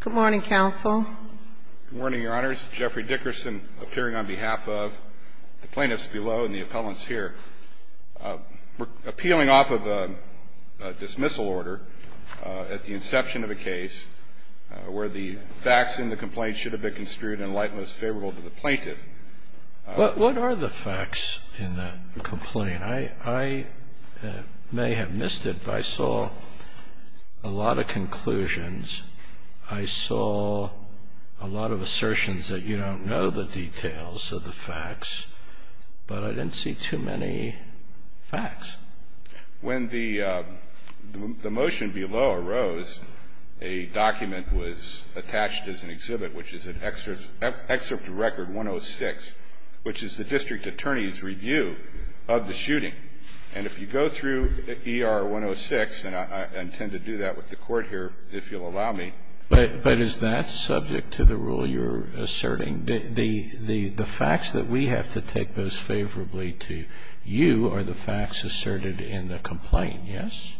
Good morning, Counsel. Good morning, Your Honors. Jeffrey Dickerson appearing on behalf of the plaintiffs below and the appellants here. Appealing off of a dismissal order at the inception of a case where the facts in the complaint should have been construed in light that was favorable to the plaintiff. What are the facts in the complaint? I may have missed it, but I saw a lot of conclusions. I saw a lot of assertions that you don't know the details of the facts, but I didn't see too many facts. When the motion below arose, a document was attached as an exhibit, which is an excerpt of Record 106, which is the district attorney's review of the shooting. And if you go through ER 106, and I intend to do that with the Court here, if you'll allow me. But is that subject to the rule you're asserting? The facts that we have to take most favorably to you are the facts asserted in the complaint, yes?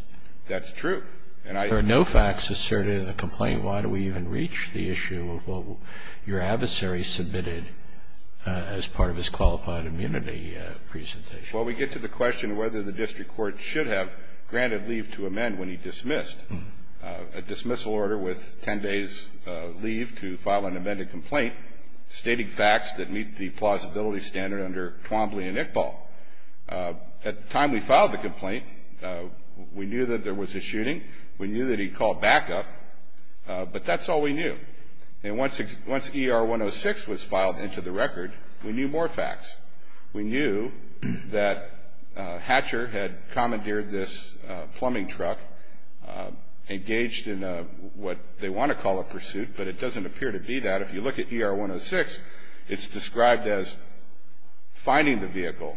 That's true. There are no facts asserted in the complaint. Why do we even reach the issue of what your adversary submitted as part of his qualified immunity presentation? Well, we get to the question whether the district court should have granted leave to amend when he dismissed. A dismissal order with 10 days leave to file an amended complaint stating facts that meet the plausibility standard under Twombly and Iqbal. At the time we filed the complaint, we knew that there was a shooting. We knew that he called backup. But that's all we knew. And once ER 106 was filed into the record, we knew more facts. We knew that Hatcher had commandeered this plumbing truck, engaged in what they want to call a pursuit, but it doesn't appear to be that. If you look at ER 106, it's described as finding the vehicle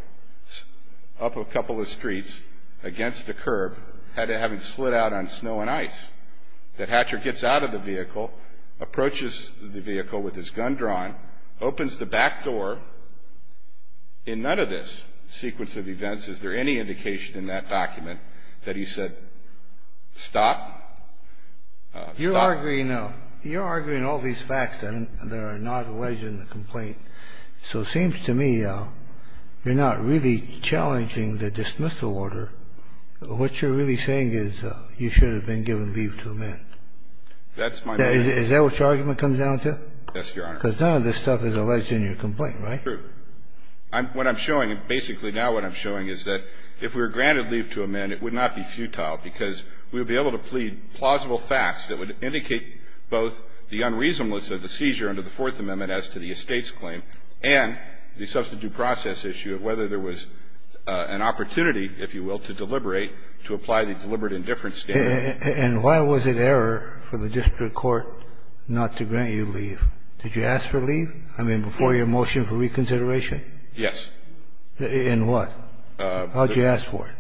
up a couple of streets against the curb, having slid out on snow and ice. That Hatcher gets out of the vehicle, approaches the vehicle with his gun drawn, opens the back door. In none of this sequence of events is there any indication in that document that he said, stop, stop. You're arguing all these facts that are not alleged in the complaint. So it seems to me you're not really challenging the dismissal order. What you're really saying is you should have been given leave to amend. That's my point. Is that what your argument comes down to? Yes, Your Honor. Because none of this stuff is alleged in your complaint, right? True. What I'm showing, basically now what I'm showing is that if we were granted leave to amend, it would not be futile because we would be able to plead plausible facts that would indicate both the unreasonableness of the seizure under the Fourth Amendment as to the estate's claim and the substitute process issue of whether there was an opportunity, if you will, to deliberate, to apply the deliberate indifference standard. And why was it error for the district court not to grant you leave? Did you ask for leave? I mean, before your motion for reconsideration? Yes. In what? How did you ask for it?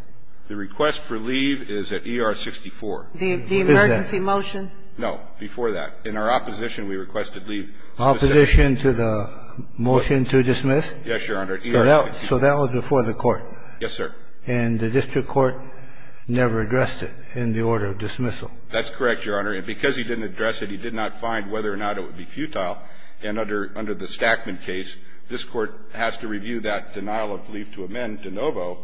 The request for leave is at ER 64. The emergency motion? No, before that. In our opposition, we requested leave. Opposition to the motion to dismiss? Yes, Your Honor. So that was before the court? Yes, sir. And the district court never addressed it in the order of dismissal? That's correct, Your Honor. And because he didn't address it, he did not find whether or not it would be futile. And under the Stackman case, this Court has to review that denial of leave to amend de novo,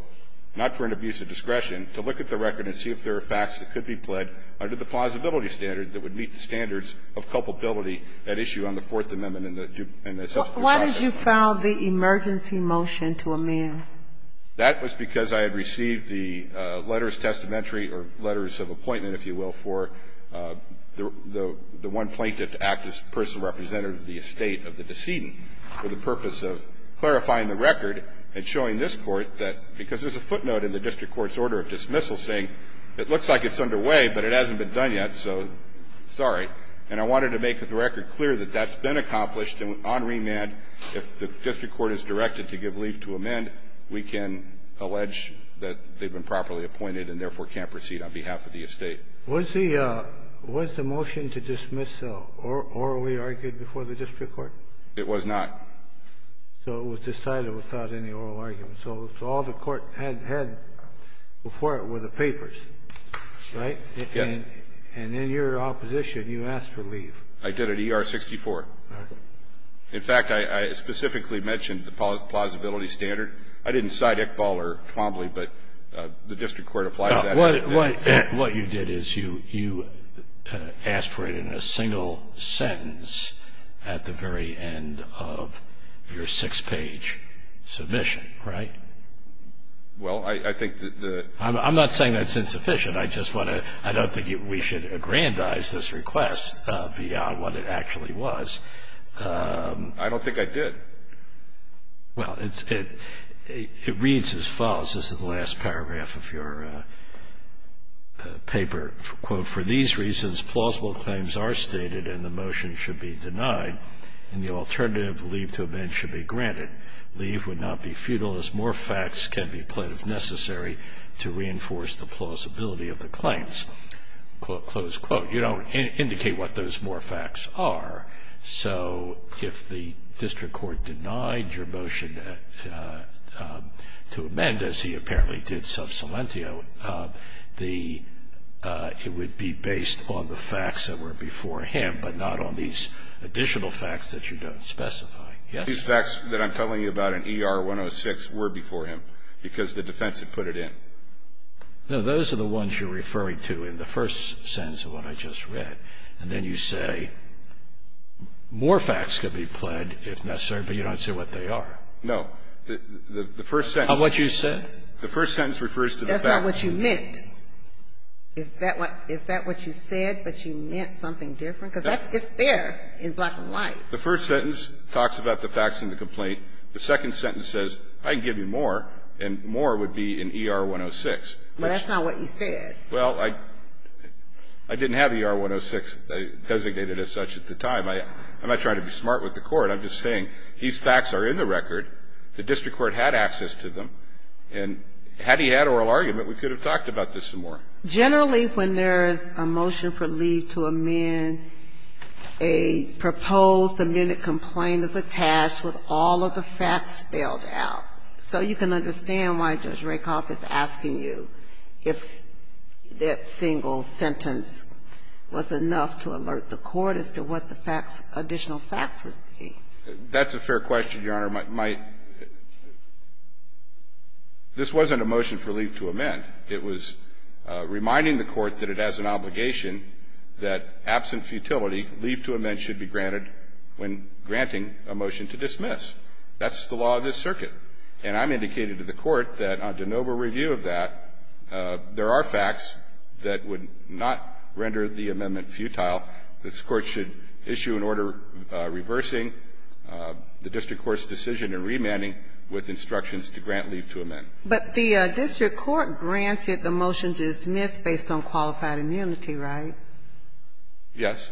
not for an abuse of discretion, to look at the record and see if there are facts that could be pled under the plausibility standard that would meet the standards of culpability at issue on the Fourth Amendment and the substitute process. But why did you file the emergency motion to amend? That was because I had received the letters, testamentary or letters of appointment, if you will, for the one plaintiff to act as personal representative of the estate of the decedent for the purpose of clarifying the record and showing this Court that because there's a footnote in the district court's order of dismissal saying it looks like it's underway, but it hasn't been done yet, so sorry, and I wanted to make the point that that's been accomplished on remand. If the district court is directed to give leave to amend, we can allege that they've been properly appointed and, therefore, can't proceed on behalf of the estate. Was the motion to dismiss orally argued before the district court? It was not. So it was decided without any oral argument. So all the court had before it were the papers, right? Yes. And in your opposition, you asked for leave. I did at ER-64. All right. In fact, I specifically mentioned the plausibility standard. I didn't cite Iqbal or Twombly, but the district court applies that. What you did is you asked for it in a single sentence at the very end of your six-page submission, right? Well, I think that the ---- I'm not saying that's insufficient. I just want to ---- I don't think we should aggrandize this request beyond what it actually was. I don't think I did. Well, it reads as follows. This is the last paragraph of your paper. Quote, for these reasons, plausible claims are stated and the motion should be denied, and the alternative, leave to amend, should be granted. Leave would not be futile as more facts can be pled if necessary to reinforce the plausibility of the claims. Close quote. You don't indicate what those more facts are. So if the district court denied your motion to amend, as he apparently did sub silentio, the ---- it would be based on the facts that were before him, but not on these additional facts that you don't specify. Yes? These facts that I'm telling you about in ER-106 were before him because the defense had put it in. No. Those are the ones you're referring to in the first sentence of what I just read. And then you say more facts could be pled if necessary, but you don't say what they are. No. The first sentence. Of what you said? The first sentence refers to the facts. That's not what you meant. Is that what you said, but you meant something different? Because that's just there in black and white. The first sentence talks about the facts in the complaint. The second sentence says I can give you more, and more would be in ER-106. Well, that's not what you said. Well, I didn't have ER-106 designated as such at the time. I'm not trying to be smart with the Court. I'm just saying these facts are in the record. The district court had access to them. And had he had oral argument, we could have talked about this some more. Generally, when there is a motion for leave to amend, a proposed amended complaint is attached with all of the facts spelled out. So you can understand why Judge Rakoff is asking you if that single sentence was enough to alert the Court as to what the facts, additional facts would be. That's a fair question, Your Honor. My – this wasn't a motion for leave to amend. It was reminding the Court that it has an obligation that absent futility, leave to amend should be granted when granting a motion to dismiss. That's the law of this circuit. And I'm indicating to the Court that on de novo review of that, there are facts that would not render the amendment futile. This Court should issue an order reversing the district court's decision in remanding with instructions to grant leave to amend. But the district court granted the motion to dismiss based on qualified immunity, Yes.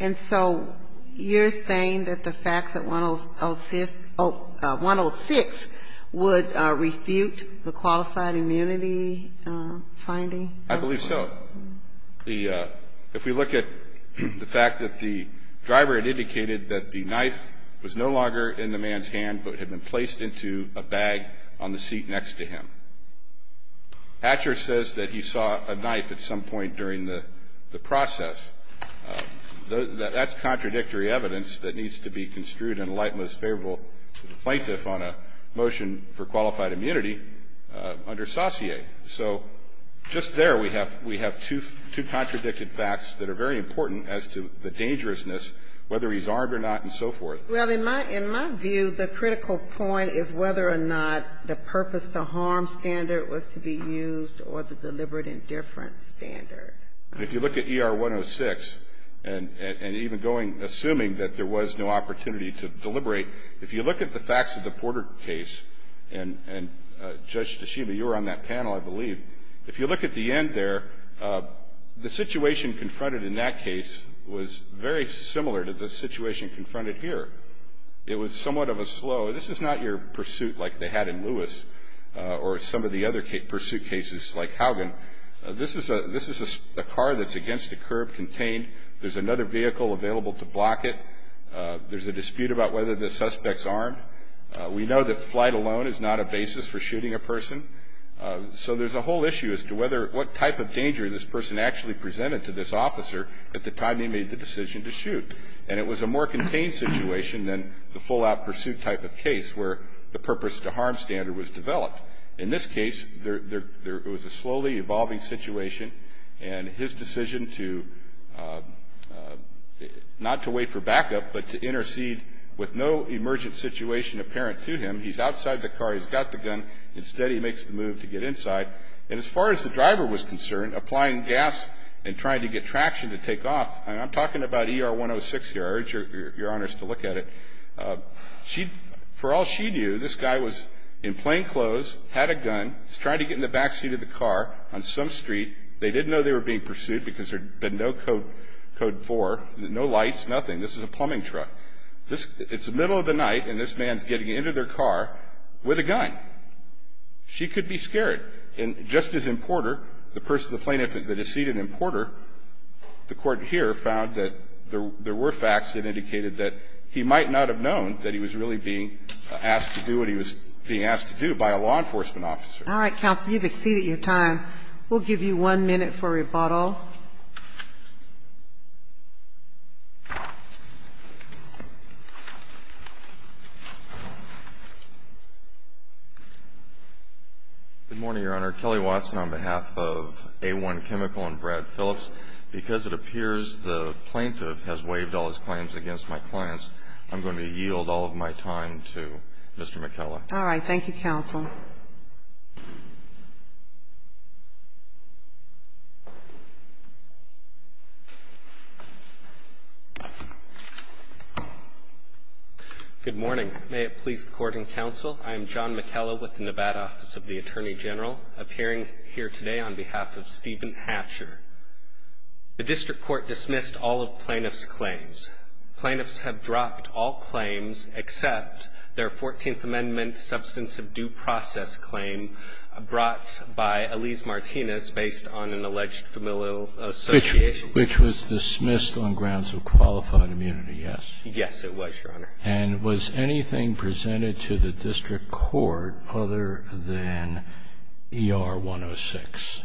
And so you're saying that the facts at 106 would refute the qualified immunity finding? I believe so. If we look at the fact that the driver had indicated that the knife was no longer in the man's hand but had been placed into a bag on the seat next to him. Hatcher says that he saw a knife at some point during the process. That's contradictory evidence that needs to be construed in the light most favorable to the plaintiff on a motion for qualified immunity under Saussure. So just there we have two contradicted facts that are very important as to the dangerousness, whether he's armed or not and so forth. Well, in my view, the critical point is whether or not the purpose-to-harm standard was to be used or the deliberate indifference standard. If you look at ER 106, and even going, assuming that there was no opportunity to deliberate, if you look at the facts of the Porter case, and Judge Tashima, you were on that panel, I believe. If you look at the end there, the situation confronted in that case was very similar to the situation confronted here. It was somewhat of a slow. This is not your pursuit like they had in Lewis or some of the other pursuit cases like Haugen. This is a car that's against a curb contained. There's another vehicle available to block it. There's a dispute about whether the suspect's armed. We know that flight alone is not a basis for shooting a person, so there's a whole issue as to what type of danger this person actually presented to this officer at the time he made the decision to shoot. And it was a more contained situation than the full-out pursuit type of case, where the purpose-to-harm standard was developed. In this case, there was a slowly evolving situation, and his decision to not to wait for backup, but to intercede with no emergent situation apparent to him. He's outside the car. He's got the gun. Instead, he makes the move to get inside. And as far as the driver was concerned, applying gas and trying to get traction to take off, and I'm talking about ER-106 here. I urge your honors to look at it. For all she knew, this guy was in plain clothes, had a gun. He's trying to get in the backseat of the car on some street. They didn't know they were being pursued because there had been no Code 4, no lights, nothing. This is a plumbing truck. It's the middle of the night, and this man's getting into their car with a gun. She could be scared. And Justice Importer, the person, the plaintiff, the deceited importer, the Court here found that there were facts that indicated that he might not have known that he was really being asked to do what he was being asked to do by a law enforcement officer. All right, counsel. You've exceeded your time. We'll give you one minute for rebuttal. Good morning, Your Honor. Kelly Watson on behalf of A1 Chemical and Brad Phillips. Because it appears the plaintiff has waived all his claims against my clients, I'm going to yield all of my time to Mr. McKellar. All right. Thank you, counsel. Good morning. May it please the Court and counsel, I am John McKellar with the Nevada Office of the Attorney General, appearing here today on behalf of Stephen Hatcher. The district court dismissed all of plaintiff's claims. Plaintiffs have dropped all claims except their 14th Amendment substantive due process claim brought by Elise Martinez based on an alleged familial association. Which was dismissed on grounds of qualified immunity, yes. Yes, it was, Your Honor. And was anything presented to the district court other than ER-106?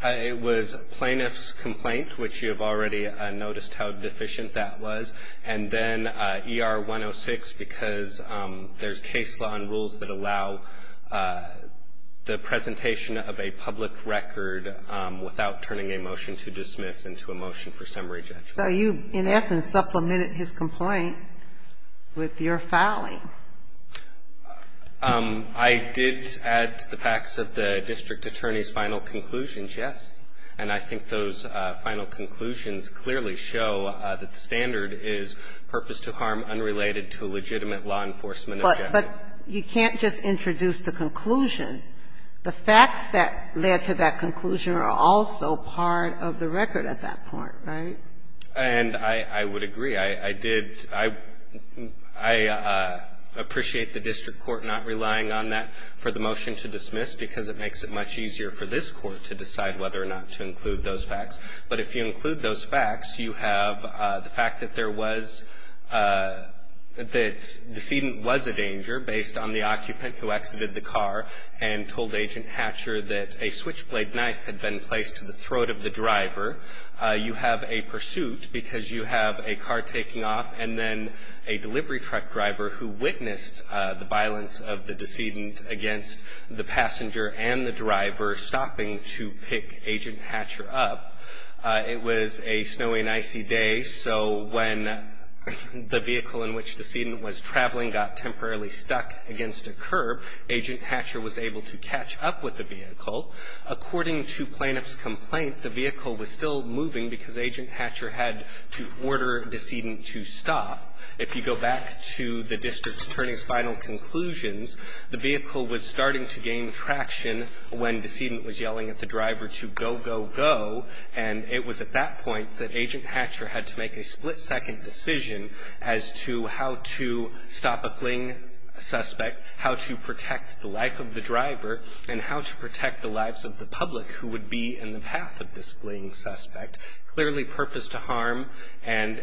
It was plaintiff's complaint, which you have already noticed how deficient that was, and then ER-106 because there's case law and rules that allow the presentation of a public record without turning a motion to dismiss into a motion for summary judgment. So you, in essence, supplemented his complaint with your filing. I did add to the facts of the district attorney's final conclusions, yes. And I think those final conclusions clearly show that the standard is purpose to harm unrelated to a legitimate law enforcement objective. But you can't just introduce the conclusion. The facts that led to that conclusion are also part of the record at that point, right? And I would agree. I did – I appreciate the district court not relying on that for the motion to dismiss because it makes it much easier for this Court to decide whether or not to include those facts. But if you include those facts, you have the fact that there was – that the decedent was a danger based on the occupant who exited the car and told Agent Hatcher that a switchblade knife had been placed to the throat of the driver. You have a pursuit because you have a car taking off and then a delivery truck driver who witnessed the violence of the decedent against the passenger and the driver stopping to pick Agent Hatcher up. It was a snowy and icy day. So when the vehicle in which the decedent was traveling got temporarily stuck against a curb, Agent Hatcher was able to catch up with the vehicle. According to plaintiff's complaint, the vehicle was still moving because Agent Hatcher had to order decedent to stop. If you go back to the district attorney's final conclusions, the vehicle was starting to gain traction when decedent was yelling at the driver to go, go, go. And it was at that point that Agent Hatcher had to make a split-second decision as to how to stop a fleeing suspect, how to protect the life of the driver, and how to protect the lives of the public who would be in the path of this fleeing suspect. Clearly, purpose to harm and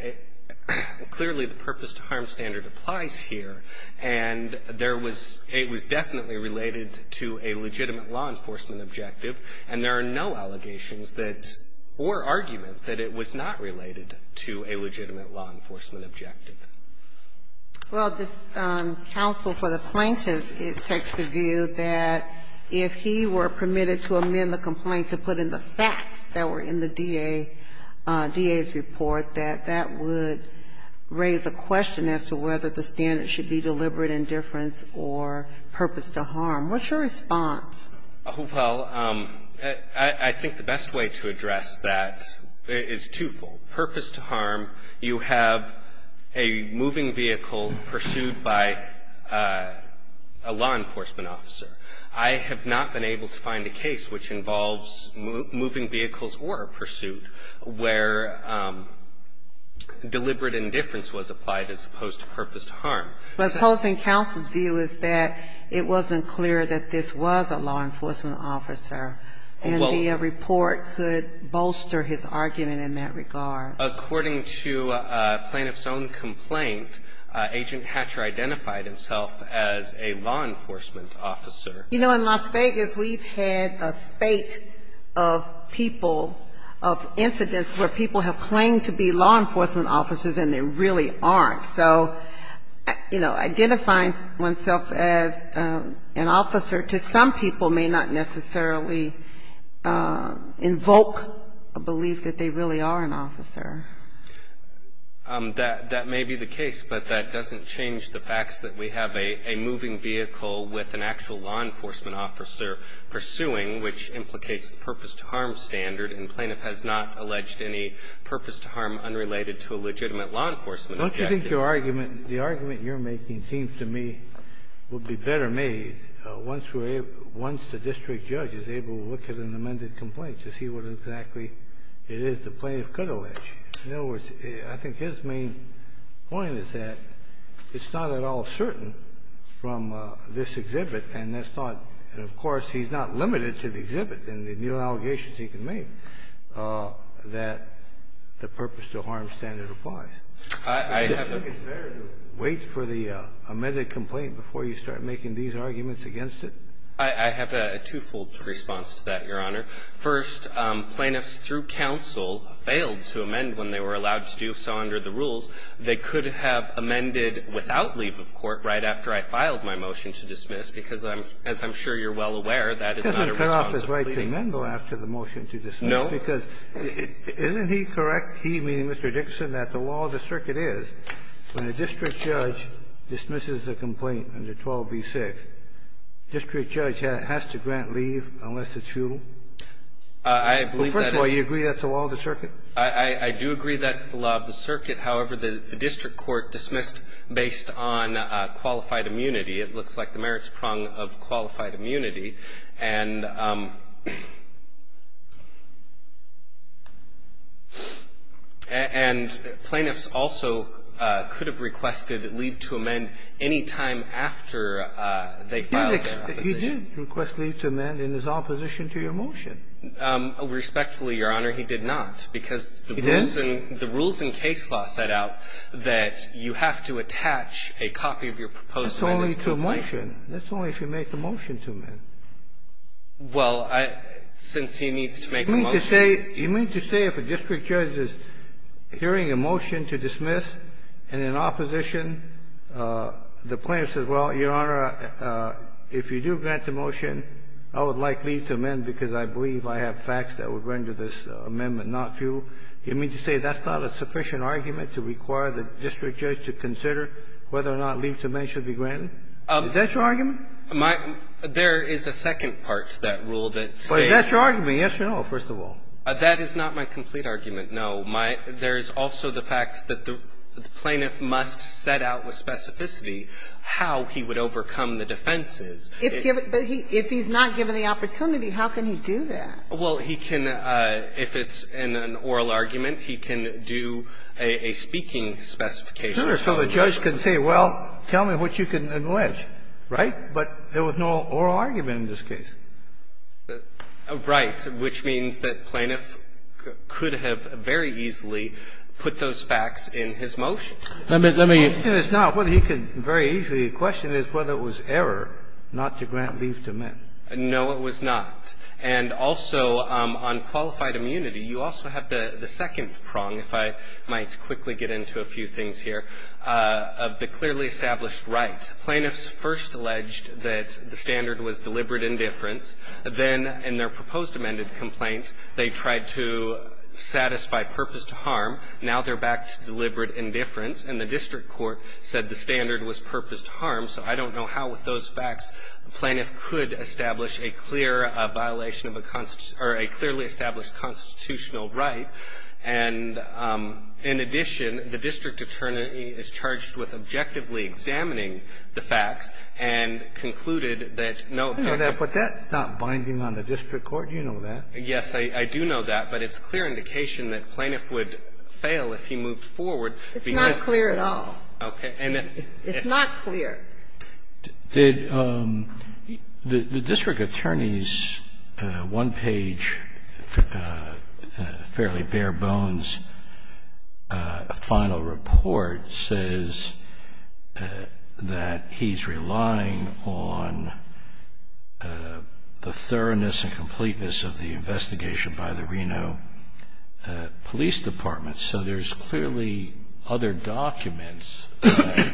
the purpose to harm standard applies here. And there was – it was definitely related to a legitimate law enforcement objective, and there are no allegations that – or argument that it was not related to a legitimate law enforcement objective. Well, the counsel for the plaintiff takes the view that if he were permitted to amend the complaint to put in the facts that were in the DA's report, that that would raise a question as to whether the standard should be deliberate indifference or purpose to harm. What's your response? Well, I think the best way to address that is twofold. Purpose to harm, you have a moving vehicle pursued by a law enforcement officer. I have not been able to find a case which involves moving vehicles or a pursuit where deliberate indifference was applied as opposed to purpose to harm. But opposing counsel's view is that it wasn't clear that this was a law enforcement officer, and the report could bolster his argument in that regard. According to a plaintiff's own complaint, Agent Hatcher identified himself as a law enforcement officer. You know, in Las Vegas, we've had a spate of people, of incidents where people have claimed to be law enforcement officers and they really aren't. So, you know, identifying oneself as an officer to some people may not necessarily invoke a belief that they really are an officer. That may be the case, but that doesn't change the fact that we have a moving vehicle with an actual law enforcement officer pursuing, which implicates the purpose to harm standard, and plaintiff has not alleged any purpose to harm unrelated to a legitimate law enforcement objective. Don't you think your argument, the argument you're making seems to me would be better made once we're able to, once the district judge is able to look at an amended complaint to see what exactly it is the plaintiff could allege? In other words, I think his main point is that it's not at all certain from this exhibit, and that's not, and of course, he's not limited to the exhibit and the new exhibit that he applies. Do you think it's better to wait for the amended complaint before you start making these arguments against it? I have a twofold response to that, Your Honor. First, plaintiffs through counsel failed to amend when they were allowed to do so under the rules. They could have amended without leave of court right after I filed my motion to dismiss, because I'm, as I'm sure you're well aware, that is not a responsible plea. It doesn't cut off his right to amend, though, after the motion to dismiss. No. Isn't he correct, he meaning Mr. Dixon, that the law of the circuit is, when a district judge dismisses a complaint under 12b-6, the district judge has to grant leave unless it's futile? I believe that is the law of the circuit. I do agree that's the law of the circuit. However, the district court dismissed based on qualified immunity. It looks like the merits prong of qualified immunity. And plaintiffs also could have requested leave to amend any time after they filed their opposition. He did request leave to amend in his opposition to your motion. Respectfully, Your Honor, he did not, because the rules in case law set out that you have to attach a copy of your proposed amendment to a plaintiff. That's only to a motion. That's only if you make a motion to amend. Well, I – since he needs to make a motion. You mean to say if a district judge is hearing a motion to dismiss and in opposition the plaintiff says, well, Your Honor, if you do grant the motion, I would like leave to amend because I believe I have facts that would render this amendment not futile, you mean to say that's not a sufficient argument to require the district judge to consider whether or not leave to amend should be granted? Is that your argument? My – there is a second part to that rule that says – But is that your argument? Yes or no, first of all. That is not my complete argument, no. My – there is also the fact that the plaintiff must set out with specificity how he would overcome the defenses. If given – but he – if he's not given the opportunity, how can he do that? Well, he can – if it's in an oral argument, he can do a speaking specification. So the judge can say, well, tell me what you can allege, right? But there was no oral argument in this case. Right, which means that plaintiff could have very easily put those facts in his motion. Let me – let me – The question is not whether he could very easily. The question is whether it was error not to grant leave to amend. No, it was not. And also on qualified immunity, you also have the second prong, if I might quickly get into a few things here, of the clearly established right. Plaintiffs first alleged that the standard was deliberate indifference. Then in their proposed amended complaint, they tried to satisfy purposed harm. Now they're back to deliberate indifference. And the district court said the standard was purposed harm. So I don't know how with those facts the plaintiff could establish a clear violation of a – or a clearly established constitutional right. And in addition, the district attorney is charged with objectively examining the facts and concluded that no objective – But that's not binding on the district court. You know that. Yes, I do know that. But it's clear indication that plaintiff would fail if he moved forward because – It's not clear at all. Okay. And if – It's not clear. Did – the district attorney's one-page, fairly bare-bones final report says that he's relying on the thoroughness and completeness of the investigation by the Reno Police Department. So there's clearly other documents that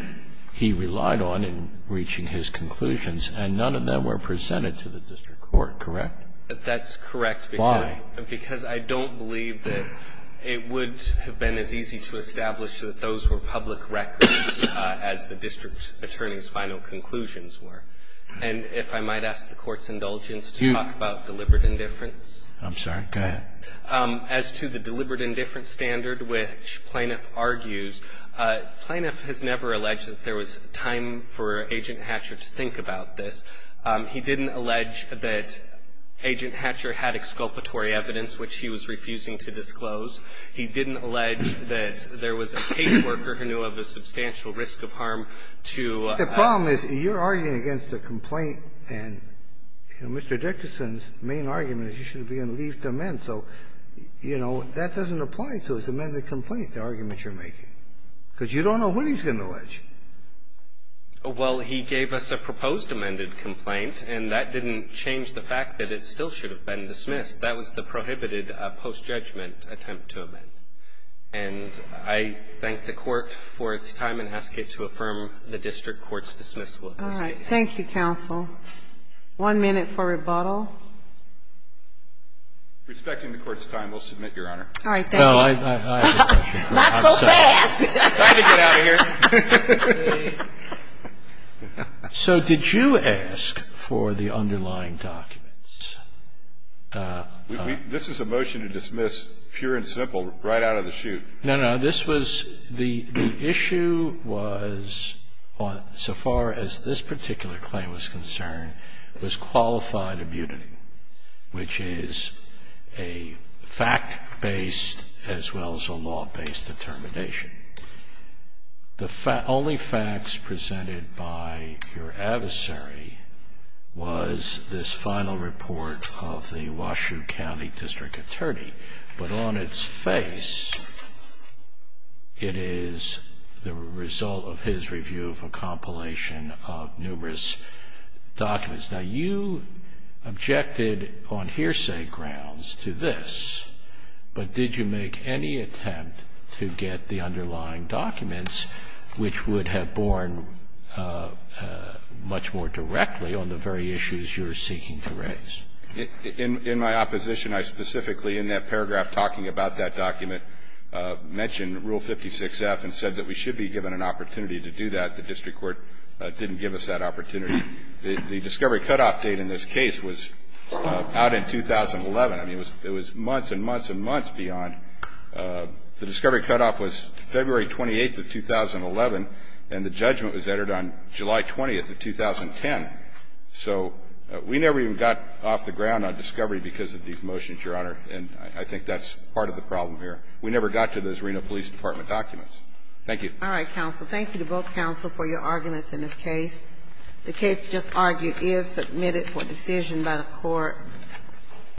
he relied on in reaching his conclusions, and none of them were presented to the district court, correct? That's correct, because I don't believe that it would have been as easy to establish that those were public records as the district attorney's final conclusions were. And if I might ask the Court's indulgence to talk about deliberate indifference. I'm sorry. Go ahead. As to the deliberate indifference standard which plaintiff argues, plaintiff has never alleged that there was time for Agent Hatcher to think about this. He didn't allege that Agent Hatcher had exculpatory evidence, which he was refusing to disclose. He didn't allege that there was a caseworker who knew of a substantial risk of harm to – The problem is you're arguing against a complaint, and, you know, Mr. Dickerson's main argument is you should have been in leave to amend. So, you know, that doesn't apply to his amended complaint, the argument you're making, because you don't know when he's going to allege. Well, he gave us a proposed amended complaint, and that didn't change the fact that it still should have been dismissed. That was the prohibited post-judgment attempt to amend. And I thank the Court for its time and ask it to affirm the district court's dismissal of this case. All right. Thank you, counsel. One minute for rebuttal. Respecting the Court's time, we'll submit, Your Honor. All right. Thank you. Not so fast. Time to get out of here. So did you ask for the underlying documents? This is a motion to dismiss, pure and simple, right out of the chute. No, no. This was – the issue was, so far as this particular claim was concerned, was qualified immunity, which is a fact-based as well as a law-based determination. The only facts presented by your adversary was this final report of the Washoe County District Attorney. But on its face, it is the result of his review of a compilation of numerous documents. Now, you objected on hearsay grounds to this, but did you make any attempt to get the underlying documents, which would have borne much more directly on the very issues you're seeking to raise? In my opposition, I specifically, in that paragraph talking about that document, mentioned Rule 56F and said that we should be given an opportunity to do that. The district court didn't give us that opportunity. The discovery cutoff date in this case was out in 2011. I mean, it was months and months and months beyond. The discovery cutoff was February 28th of 2011, and the judgment was entered on July 20th of 2010. So we never even got off the ground on discovery because of these motions, Your Honor. And I think that's part of the problem here. We never got to those Reno Police Department documents. Thank you. All right, counsel. Thank you to both counsel for your arguments in this case. The case just argued is submitted for decision by the Court.